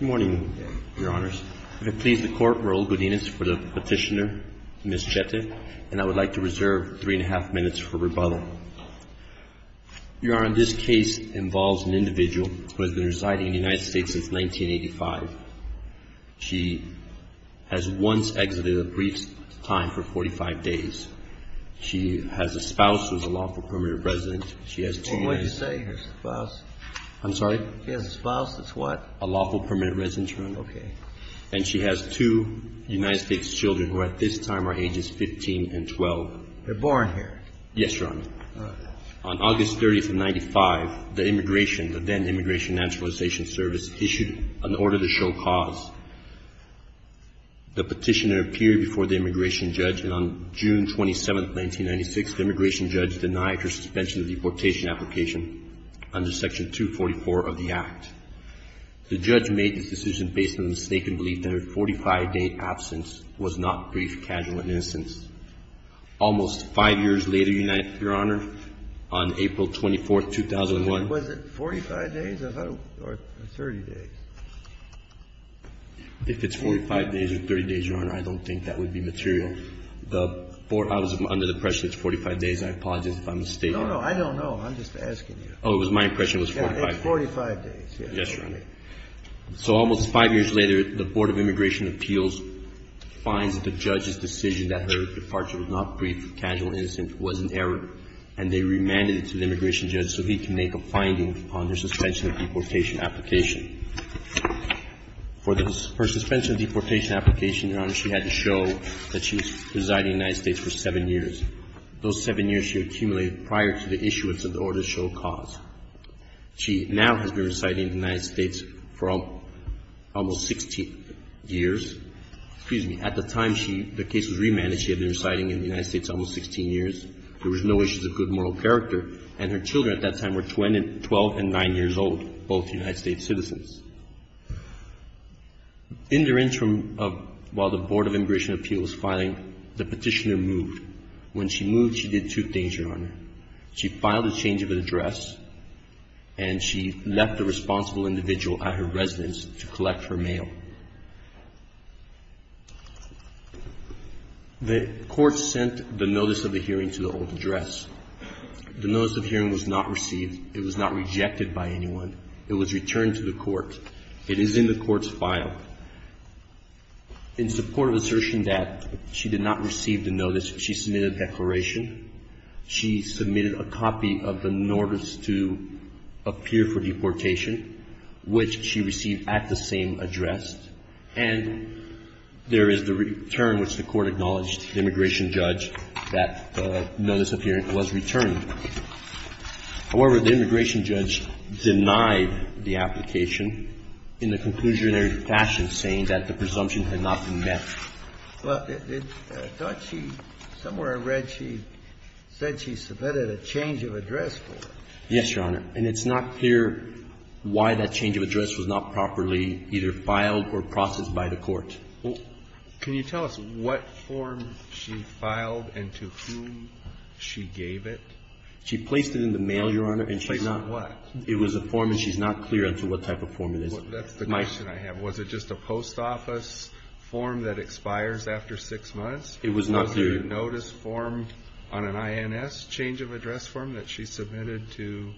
Good morning, Your Honors. I would like to reserve 3.5 minutes for rebuttal. Your Honor, this case involves an individual who has been residing in the United States since 1985. She has once exited a brief time for 45 days. She has a spouse who is a lawful permanent resident. And she has two United States children who at this time are ages 15 and 12. They're born here? Yes, Your Honor. On August 30, 1995, the immigration, the then Immigration and Naturalization Service, issued an order to show cause. The petitioner appeared before the immigration judge, and on June 27, 1996, the immigration judge denied her suspension of the deportation application under Section 244 of the Act. The judge made this decision based on a mistaken belief that her 45-day absence was not a brief casual instance. Almost 5 years later, Your Honor, on April 24, 2001. Was it 45 days? I thought it was 30 days. If it's 45 days or 30 days, Your Honor, I don't think that would be material. I was under the impression it's 45 days. I apologize if I'm mistaken. No, no. I don't know. I'm just asking you. It's 45 days. It's 45 days. Yes, Your Honor. So almost 5 years later, the Board of Immigration Appeals finds that the judge's decision that her departure was not brief casual instance was an error, and they remanded it to the immigration judge so he can make a finding on her suspension of deportation application. For her suspension of deportation application, Your Honor, she had to show that she was residing in the United States for 7 years. Those 7 years she accumulated prior to the issuance of the order show cause. She now has been residing in the United States for almost 16 years. Excuse me. At the time she the case was remanded, she had been residing in the United States almost 16 years. There was no issue of good moral character, and her children at that time were 12 and 9 years old, both United States citizens. In the interim of while the Board of Immigration Appeals filing, the petitioner moved. When she moved, she did two things, Your Honor. She filed a change of address, and she left the responsible individual at her residence to collect her mail. The court sent the notice of the hearing to the old address. The notice of hearing was not received. It was not rejected by anyone. It was returned to the court. It is in the court's file. In support of assertion that she did not receive the notice, she submitted a declaration. She submitted a copy of the notice to appear for deportation, which she received at the same address, and there is the return which the court acknowledged, the immigration judge, that the notice of hearing was returned. However, the immigration judge denied the application in a conclusionary fashion, saying that the presumption had not been met. Well, I thought she, somewhere I read she said she submitted a change of address for her. Yes, Your Honor. And it's not clear why that change of address was not properly either filed or processed by the court. Can you tell us what form she filed and to whom she gave it? She placed it in the mail, Your Honor. She placed it in what? It was a form, and she's not clear as to what type of form it is. That's the question I have. Was it just a post office form that expires after 6 months? It was not clear. Was it a notice form on an INS change of address form that she submitted to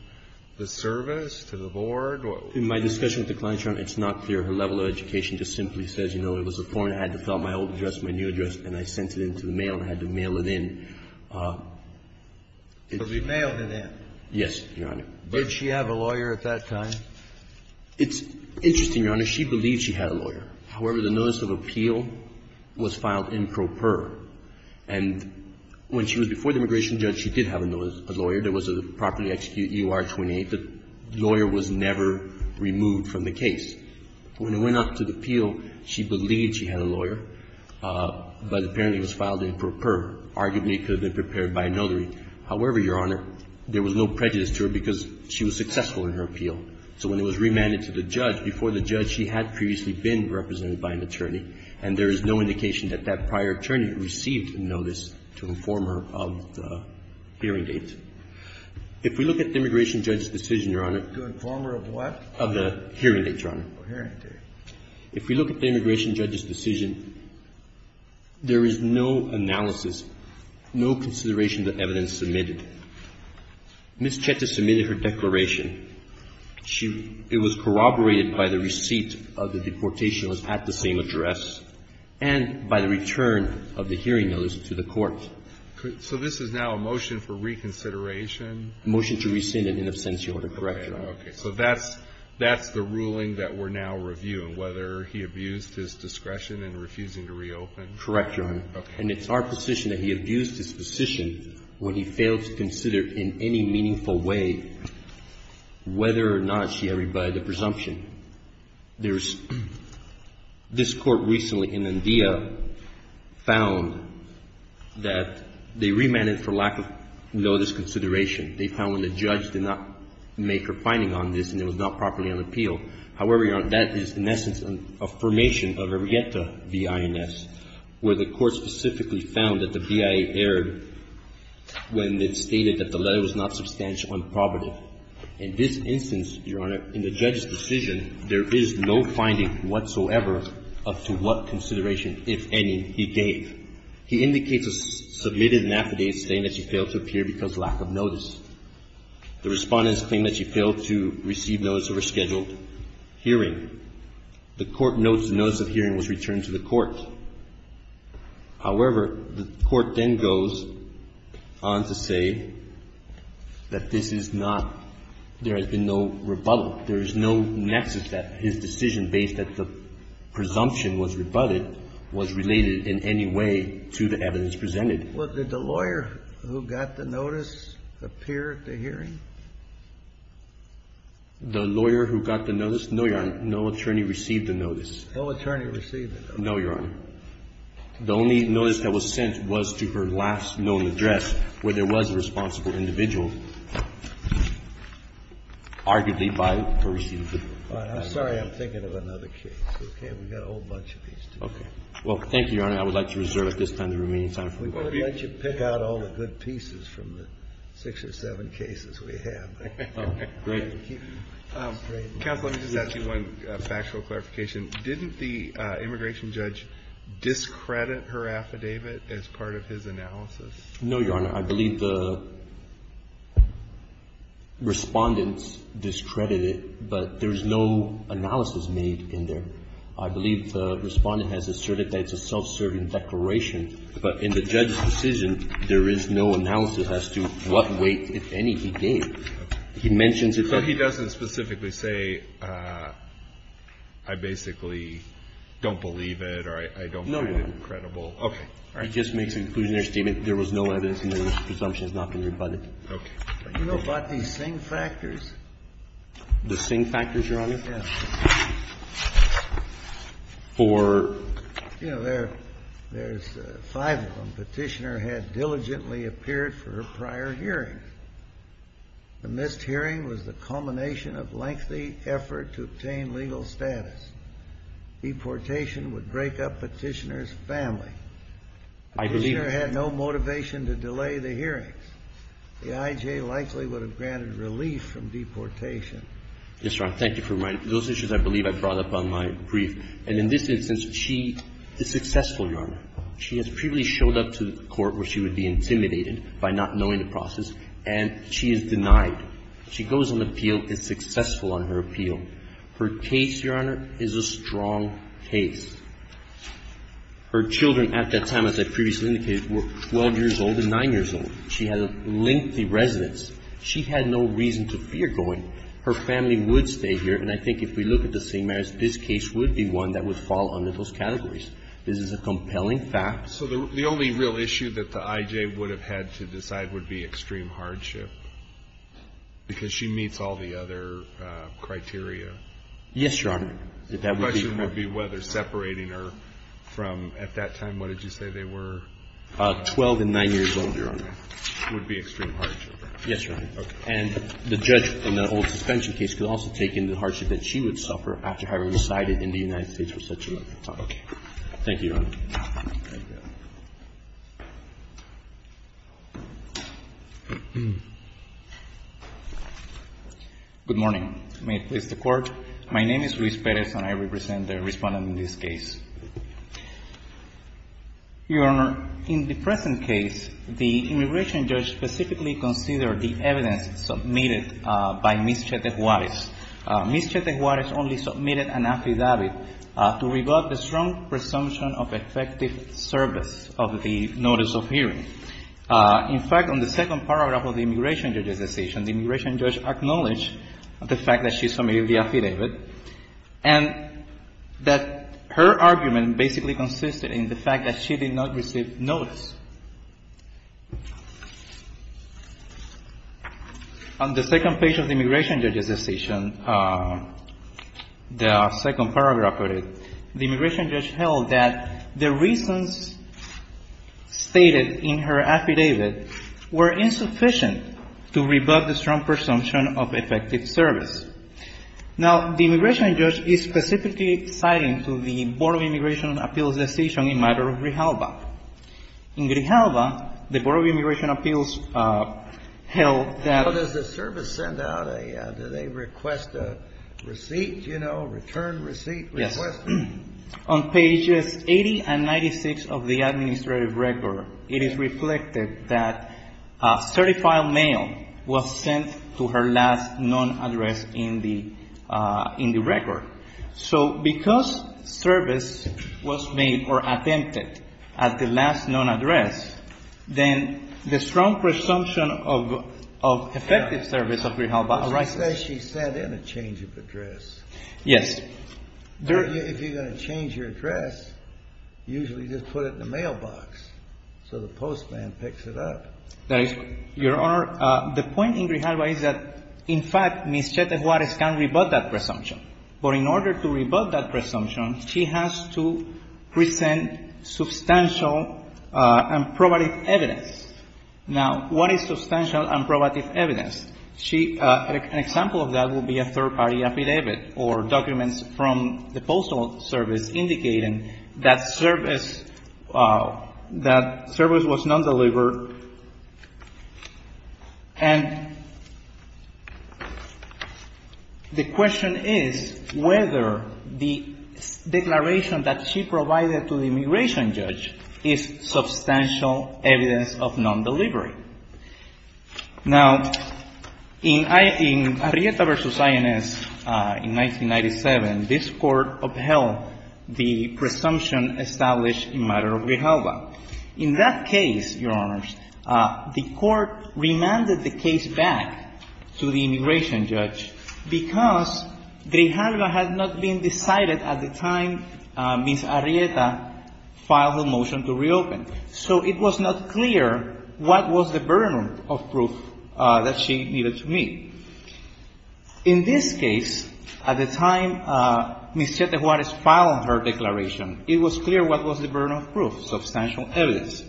the service, to the board? In my discussion with the client, Your Honor, it's not clear. Her level of education just simply says, you know, it was a form. I had to fill out my old address, my new address, and I sent it in to the mail and had to mail it in. But we mailed it in. Yes, Your Honor. Did she have a lawyer at that time? It's interesting, Your Honor. She believed she had a lawyer. However, the notice of appeal was filed in pro per. And when she was before the immigration judge, she did have a lawyer. There was a properly executed U.R. 28. The lawyer was never removed from the case. When it went up to the appeal, she believed she had a lawyer, but apparently was filed in pro per. Arguably, it could have been prepared by a notary. However, Your Honor, there was no prejudice to her because she was successful in her appeal. So when it was remanded to the judge, before the judge, she had previously been represented by an attorney, and there is no indication that that prior attorney received a notice to inform her of the hearing date. If we look at the immigration judge's decision, Your Honor. To inform her of what? Of the hearing date, Your Honor. Of the hearing date. If we look at the immigration judge's decision, there is no analysis, no consideration of the evidence submitted. Ms. Chete submitted her declaration. She was corroborated by the receipt of the deportation that was at the same address and by the return of the hearing notice to the court. So this is now a motion for reconsideration? A motion to rescind it in absentia, Your Honor. Correct, Your Honor. Okay. So that's the ruling that we're now reviewing, whether he abused his discretion in refusing to reopen. Correct, Your Honor. Okay. And it's our position that he abused his position when he failed to consider in any meaningful way whether or not she agreed by the presumption. There's this Court recently in Andea found that they remanded for lack of notice consideration. They found when the judge did not make her finding on this and it was not properly on appeal. However, Your Honor, that is, in essence, an affirmation of a regetta v. INS, where the Court specifically found that the BIA erred when it stated that the letter was not substantial and probative. In this instance, Your Honor, in the judge's decision, there is no finding whatsoever up to what consideration, if any, he gave. He indicates or submitted an affidavit saying that she failed to appear because of lack of notice. The Respondents claim that she failed to receive notice of her scheduled hearing. The Court notes the notice of hearing was returned to the Court. However, the Court then goes on to say that this is not – there has been no rebuttal. There is no nexus that his decision based at the presumption was rebutted was related in any way to the evidence presented. Well, did the lawyer who got the notice appear at the hearing? The lawyer who got the notice? No, Your Honor. No attorney received the notice. No attorney received the notice. No, Your Honor. The only notice that was sent was to her last known address, where there was a responsible individual, arguably by her receiver. I'm sorry. I'm thinking of another case, okay? We've got a whole bunch of these. Okay. Well, thank you, Your Honor. I would like to reserve at this time the remaining time. We're going to let you pick out all the good pieces from the six or seven cases we have. Oh, great. Counsel, let me just ask you one factual clarification. Didn't the immigration judge discredit her affidavit as part of his analysis? No, Your Honor. I believe the Respondents discredited it, but there's no analysis made in there. I believe the Respondent has asserted that it's a self-serving declaration. But in the judge's decision, there is no analysis as to what weight, if any, he gave. Okay. He mentions it. So he doesn't specifically say, I basically don't believe it or I don't find it credible. No, Your Honor. Okay. All right. He just makes an inclusionary statement. There was no evidence and the presumption has not been rebutted. Okay. You know, but the same factors. The same factors, Your Honor? Yes. For? You know, there's five of them. Petitioner had diligently appeared for her prior hearings. The missed hearing was the culmination of lengthy effort to obtain legal status. Deportation would break up Petitioner's family. I believe that. Petitioner had no motivation to delay the hearings. The I.J. likely would have granted relief from deportation. Yes, Your Honor. Thank you for reminding me. Those issues I believe I brought up on my brief. And in this instance, she is successful, Your Honor. She has previously showed up to court where she would be intimidated by not knowing the process, and she is denied. She goes on appeal and is successful on her appeal. Her case, Your Honor, is a strong case. Her children at that time, as I previously indicated, were 12 years old and 9 years old. She had a lengthy residence. She had no reason to fear going. Her family would stay here, and I think if we look at the same merits, this case would be one that would fall under those categories. This is a compelling fact. So the only real issue that the I.J. would have had to decide would be extreme hardship, because she meets all the other criteria. Yes, Your Honor. The question would be whether separating her from, at that time, what did you say they were? 12 and 9 years old, Your Honor. Would be extreme hardship. Yes, Your Honor. Okay. And the judge in the old suspension case could also take in the hardship that she would suffer after having resided in the United States for such a long time. Thank you, Your Honor. Thank you. Good morning. May it please the Court. My name is Luis Perez and I represent the Respondent in this case. Your Honor, in the present case, the immigration judge specifically considered the evidence submitted by Ms. Chete Juarez. Ms. Chete Juarez only submitted an affidavit to rebut the strong presumption of effective service of the notice of hearing. In fact, on the second paragraph of the immigration judge's decision, the immigration judge acknowledged the fact that she submitted the affidavit and that her argument basically consisted in the fact that she did not receive notice. On the second page of the immigration judge's decision, the second paragraph of it, the immigration judge held that the reasons stated in her affidavit were insufficient to rebut the strong presumption of effective service. Now, the immigration judge is specifically citing to the Board of Immigration Appeals decision in matter of rehalba. In rehalba, the Board of Immigration Appeals held that... Now, does the service send out a, do they request a receipt, you know, return receipt request? Yes. On pages 80 and 96 of the administrative record, it is reflected that a certified mail was sent to her last known address in the record. So because service was made or attempted at the last known address, then the strong presumption of effective service of rehalba arises. She says she sent in a change of address. Yes. If you're going to change your address, usually just put it in the mailbox so the postman picks it up. Your Honor, the point in rehalba is that, in fact, Ms. Chete Juarez can rebut that presumption, she has to present substantial and probative evidence. Now, what is substantial and probative evidence? She, an example of that would be a third-party affidavit or documents from the Postal Service indicating that service, that service was not delivered. And the question is whether the declaration that she provided to the immigration judge is substantial evidence of non-delivery. Now, in Arrieta v. INS in 1997, this Court upheld the presumption established in matter of rehalba. In that case, Your Honors, the Court remanded the case back to the immigration judge because rehalba had not been decided at the time Ms. Arrieta filed the motion to reopen. So it was not clear what was the burden of proof that she needed to meet. In this case, at the time Ms. Chete Juarez filed her declaration, it was clear what was the burden of proof, substantial evidence.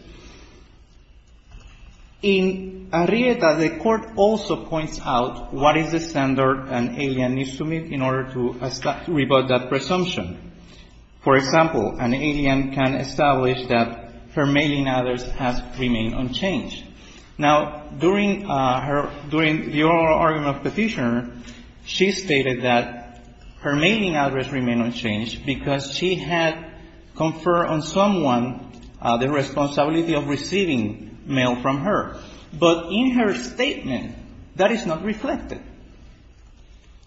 In Arrieta, the Court also points out what is the standard an alien needs to meet in order to rebut that presumption. For example, an alien can establish that her mailing address has remained unchanged. Now, during her, during the oral argument of petitioner, she stated that her mailing address remained unchanged because she had conferred on someone the responsibility of receiving mail from her. But in her statement, that is not reflected.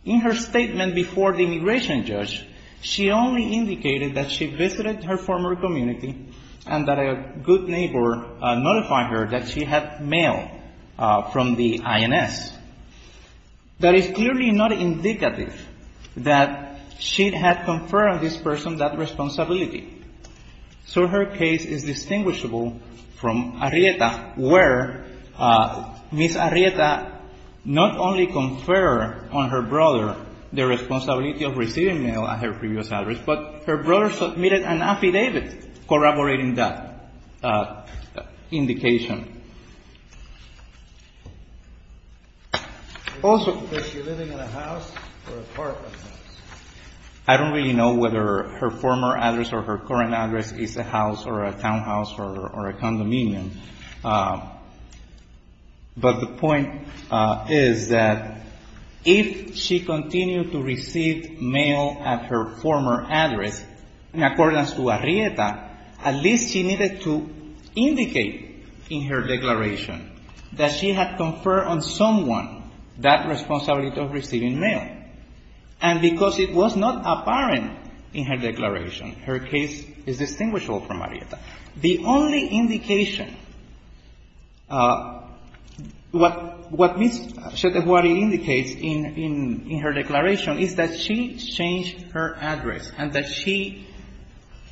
In her statement before the immigration judge, she only indicated that she visited her former community and that a good neighbor notified her that she had mail from the INS. That is clearly not indicative that she had conferred on this person that responsibility. So her case is distinguishable from Arrieta, where Ms. Arrieta not only conferred on her brother the responsibility of receiving mail at her previous address, but her brother submitted an affidavit corroborating that indication. Also, I don't really know whether her former address or her current address is a house or a townhouse or a condominium, but the point is that if she continued to receive mail at her former address, in accordance to Arrieta, at least she needed to indicate in her declaration that she had conferred on someone that responsibility of receiving mail, and because it was not apparent in her declaration, her case is distinguishable from Arrieta. The only indication, what Ms. Chetehuari indicates in her declaration is that she changed her address and that she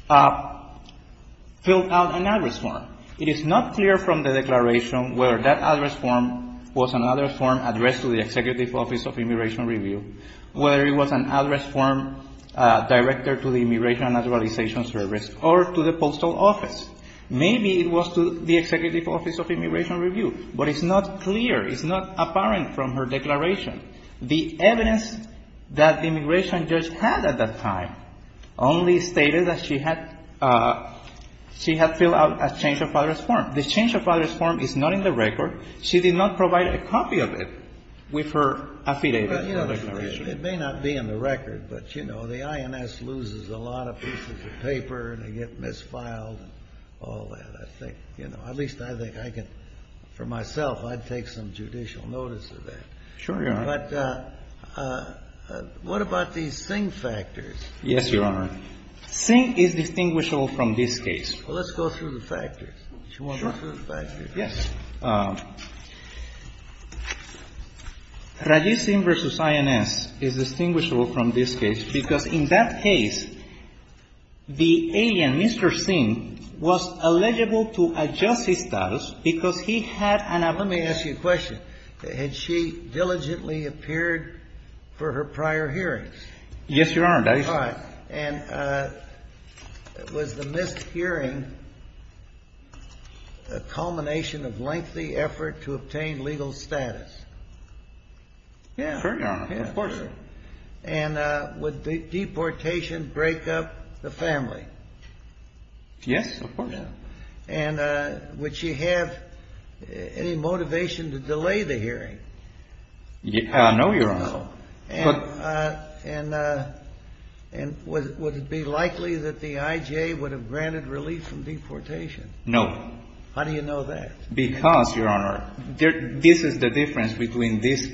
filled out an address form. It is not clear from the declaration whether that address form was another form addressed to the Executive Office of Immigration Review, whether it was an address form directed to the Immigration and Naturalization Service or to the Postal Office. Maybe it was to the Executive Office of Immigration Review, but it's not clear, it's not apparent from her declaration. The evidence that the immigration judge had at that time only stated that she had filled out a change of address form. The change of address form is not in the record. She did not provide a copy of it with her affidavit. It may not be in the record, but, you know, the INS loses a lot of pieces of paper and they get misfiled and all that, I think. You know, at least I think I can, for myself, I'd take some judicial notice of that. Sure, Your Honor. But what about these Singh factors? Yes, Your Honor. Singh is distinguishable from this case. Well, let's go through the factors. Sure. Yes. Rajiv Singh v. INS is distinguishable from this case because in that case, the alien, Mr. Singh, was eligible to adjust his status because he had an about. Let me ask you a question. Had she diligently appeared for her prior hearings? Yes, Your Honor, that is correct. And was the missed hearing a culmination of lengthy effort to obtain legal status? Yes. Sure, Your Honor. Of course. And would the deportation break up the family? Yes, of course. And would she have any motivation to delay the hearing? No, Your Honor. No. And would it be likely that the IJA would have granted relief from deportation? No. How do you know that? Because, Your Honor, this is the difference between this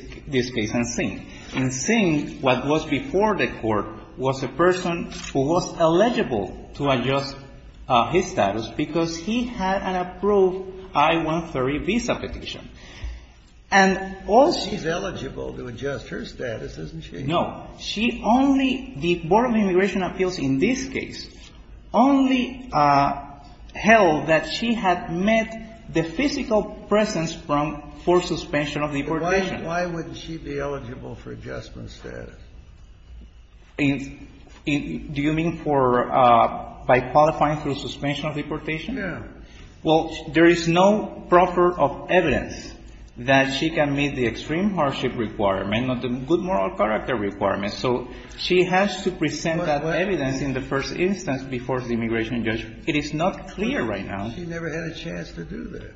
case and Singh. In Singh, what was before the Court was a person who was eligible to adjust his status because he had an approved I-130 visa petition. And all she's eligible to adjust her status, isn't she? No. She only the Board of Immigration Appeals in this case only held that she had met the physical presence from for suspension of deportation. Why wouldn't she be eligible for adjustment status? Do you mean for by qualifying for suspension of deportation? No. Well, there is no proper evidence that she can meet the extreme hardship requirement, not the good moral character requirement. So she has to present that evidence in the first instance before the immigration judge. It is not clear right now. She never had a chance to do that.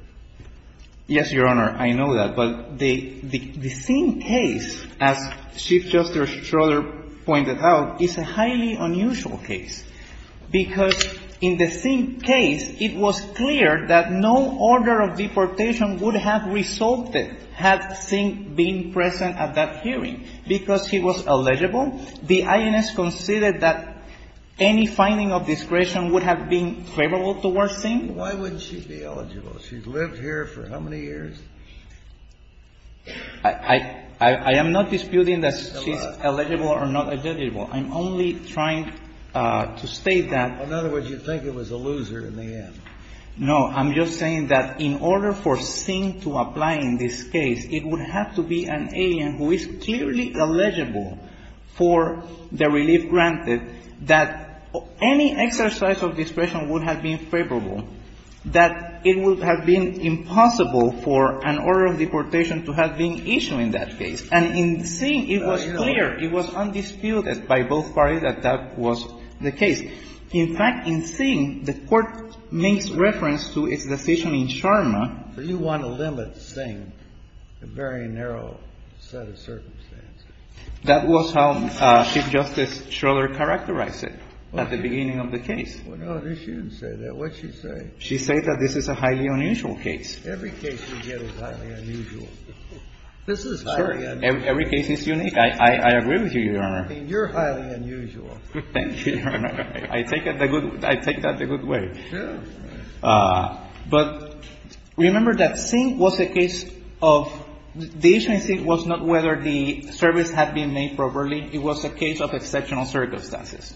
Yes, Your Honor. I know that. But the Singh case, as Chief Justice Schroeder pointed out, is a highly unusual case, because in the Singh case, it was clear that no order of deportation would have resulted had Singh been present at that hearing. Because he was eligible, the INS considered that any finding of discretion would have been favorable towards Singh. Why wouldn't she be eligible? She's lived here for how many years? I am not disputing that she's eligible or not eligible. I'm only trying to state that. In other words, you think it was a loser in the end. No. I'm just saying that in order for Singh to apply in this case, it would have to be an alien who is clearly eligible for the relief granted, that any exercise of discretion would have been favorable, that it would have been impossible for an order of deportation to have been issued in that case. And in Singh, it was clear. It was undisputed by both parties that that was the case. In fact, in Singh, the Court makes reference to its decision in Sharma. But you want to limit Singh to a very narrow set of circumstances. That was how Chief Justice Schroeder characterized it at the beginning of the case. Well, no, she didn't say that. What did she say? She said that this is a highly unusual case. Every case we get is highly unusual. This is highly unusual. Every case is unique. I agree with you, Your Honor. I mean, you're highly unusual. Thank you, Your Honor. I take that the good way. Sure. But remember that Singh was a case of the issue in Singh was not whether the service had been made properly. It was a case of exceptional circumstances.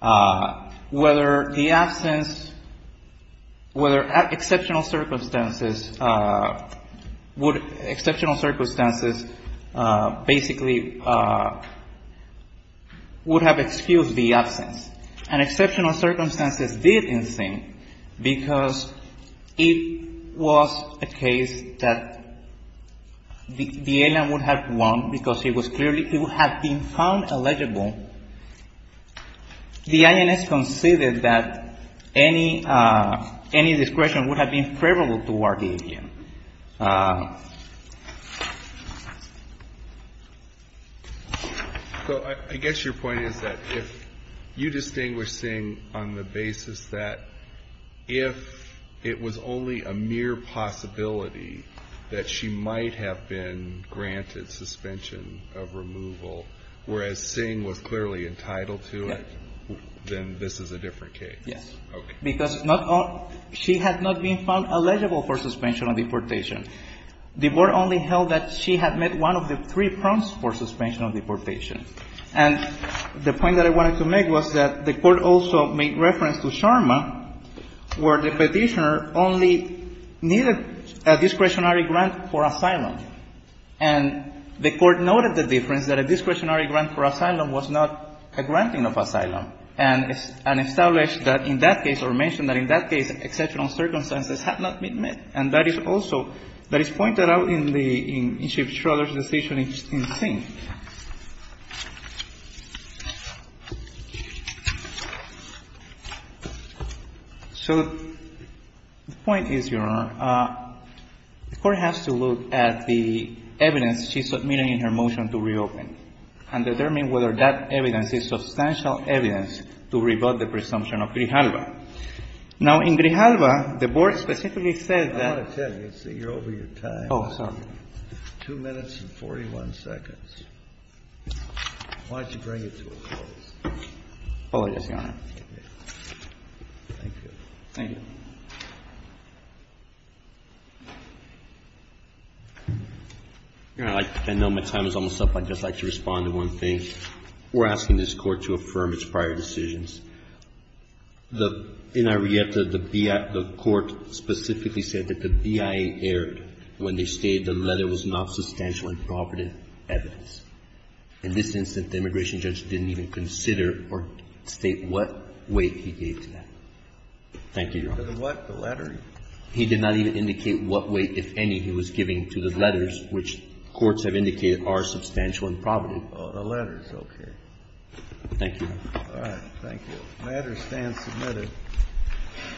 Whether the absence, whether exceptional circumstances, would exceptional circumstances basically would have excused the absence. And exceptional circumstances did in Singh because it was a case that the alien would have won because he was clearly to have been found illegible. The INS conceded that any discretion would have been favorable toward the alien. So I guess your point is that if you distinguish Singh on the basis that if it was only a mere possibility that she might have been granted suspension of removal, whereas Singh was clearly entitled to it, then this is a different case. Yes. Okay. Because she had not been found illegible for suspension of deportation. The Board only held that she had met one of the three prompts for suspension of deportation. And the point that I wanted to make was that the Court also made reference to Sharma where the Petitioner only needed a discretionary grant for asylum. And the Court noted the difference that a discretionary grant for asylum was not a granting of asylum and established that in that case or mentioned that in that case exceptional circumstances had not been met. And that is also, that is pointed out in the, in Chief Schroeder's decision in Singh. So the point is, Your Honor, the Court has to look at the evidence she submitted in her motion to reopen and determine whether that evidence is substantial evidence to rebut the presumption of Grijalva. Now, in Grijalva, the Board specifically said that. Kennedy, you're over your time. Oh, sorry. Two minutes and 41 seconds. Why don't you bring it to a close? Oh, yes, Your Honor. Thank you. Thank you. I know my time is almost up. I'd just like to respond to one thing. We're asking this Court to affirm its prior decisions. In Arieta, the BIA, the Court specifically said that the BIA erred when they stated the letter was not substantial and provident evidence. In this instance, the immigration judge didn't even consider or state what weight he gave to that. Thank you, Your Honor. The what, the letter? He did not even indicate what weight, if any, he was giving to the letters, which courts have indicated are substantial and provident. Oh, the letters, okay. Thank you, Your Honor. All right. Thank you. The matter stands submitted.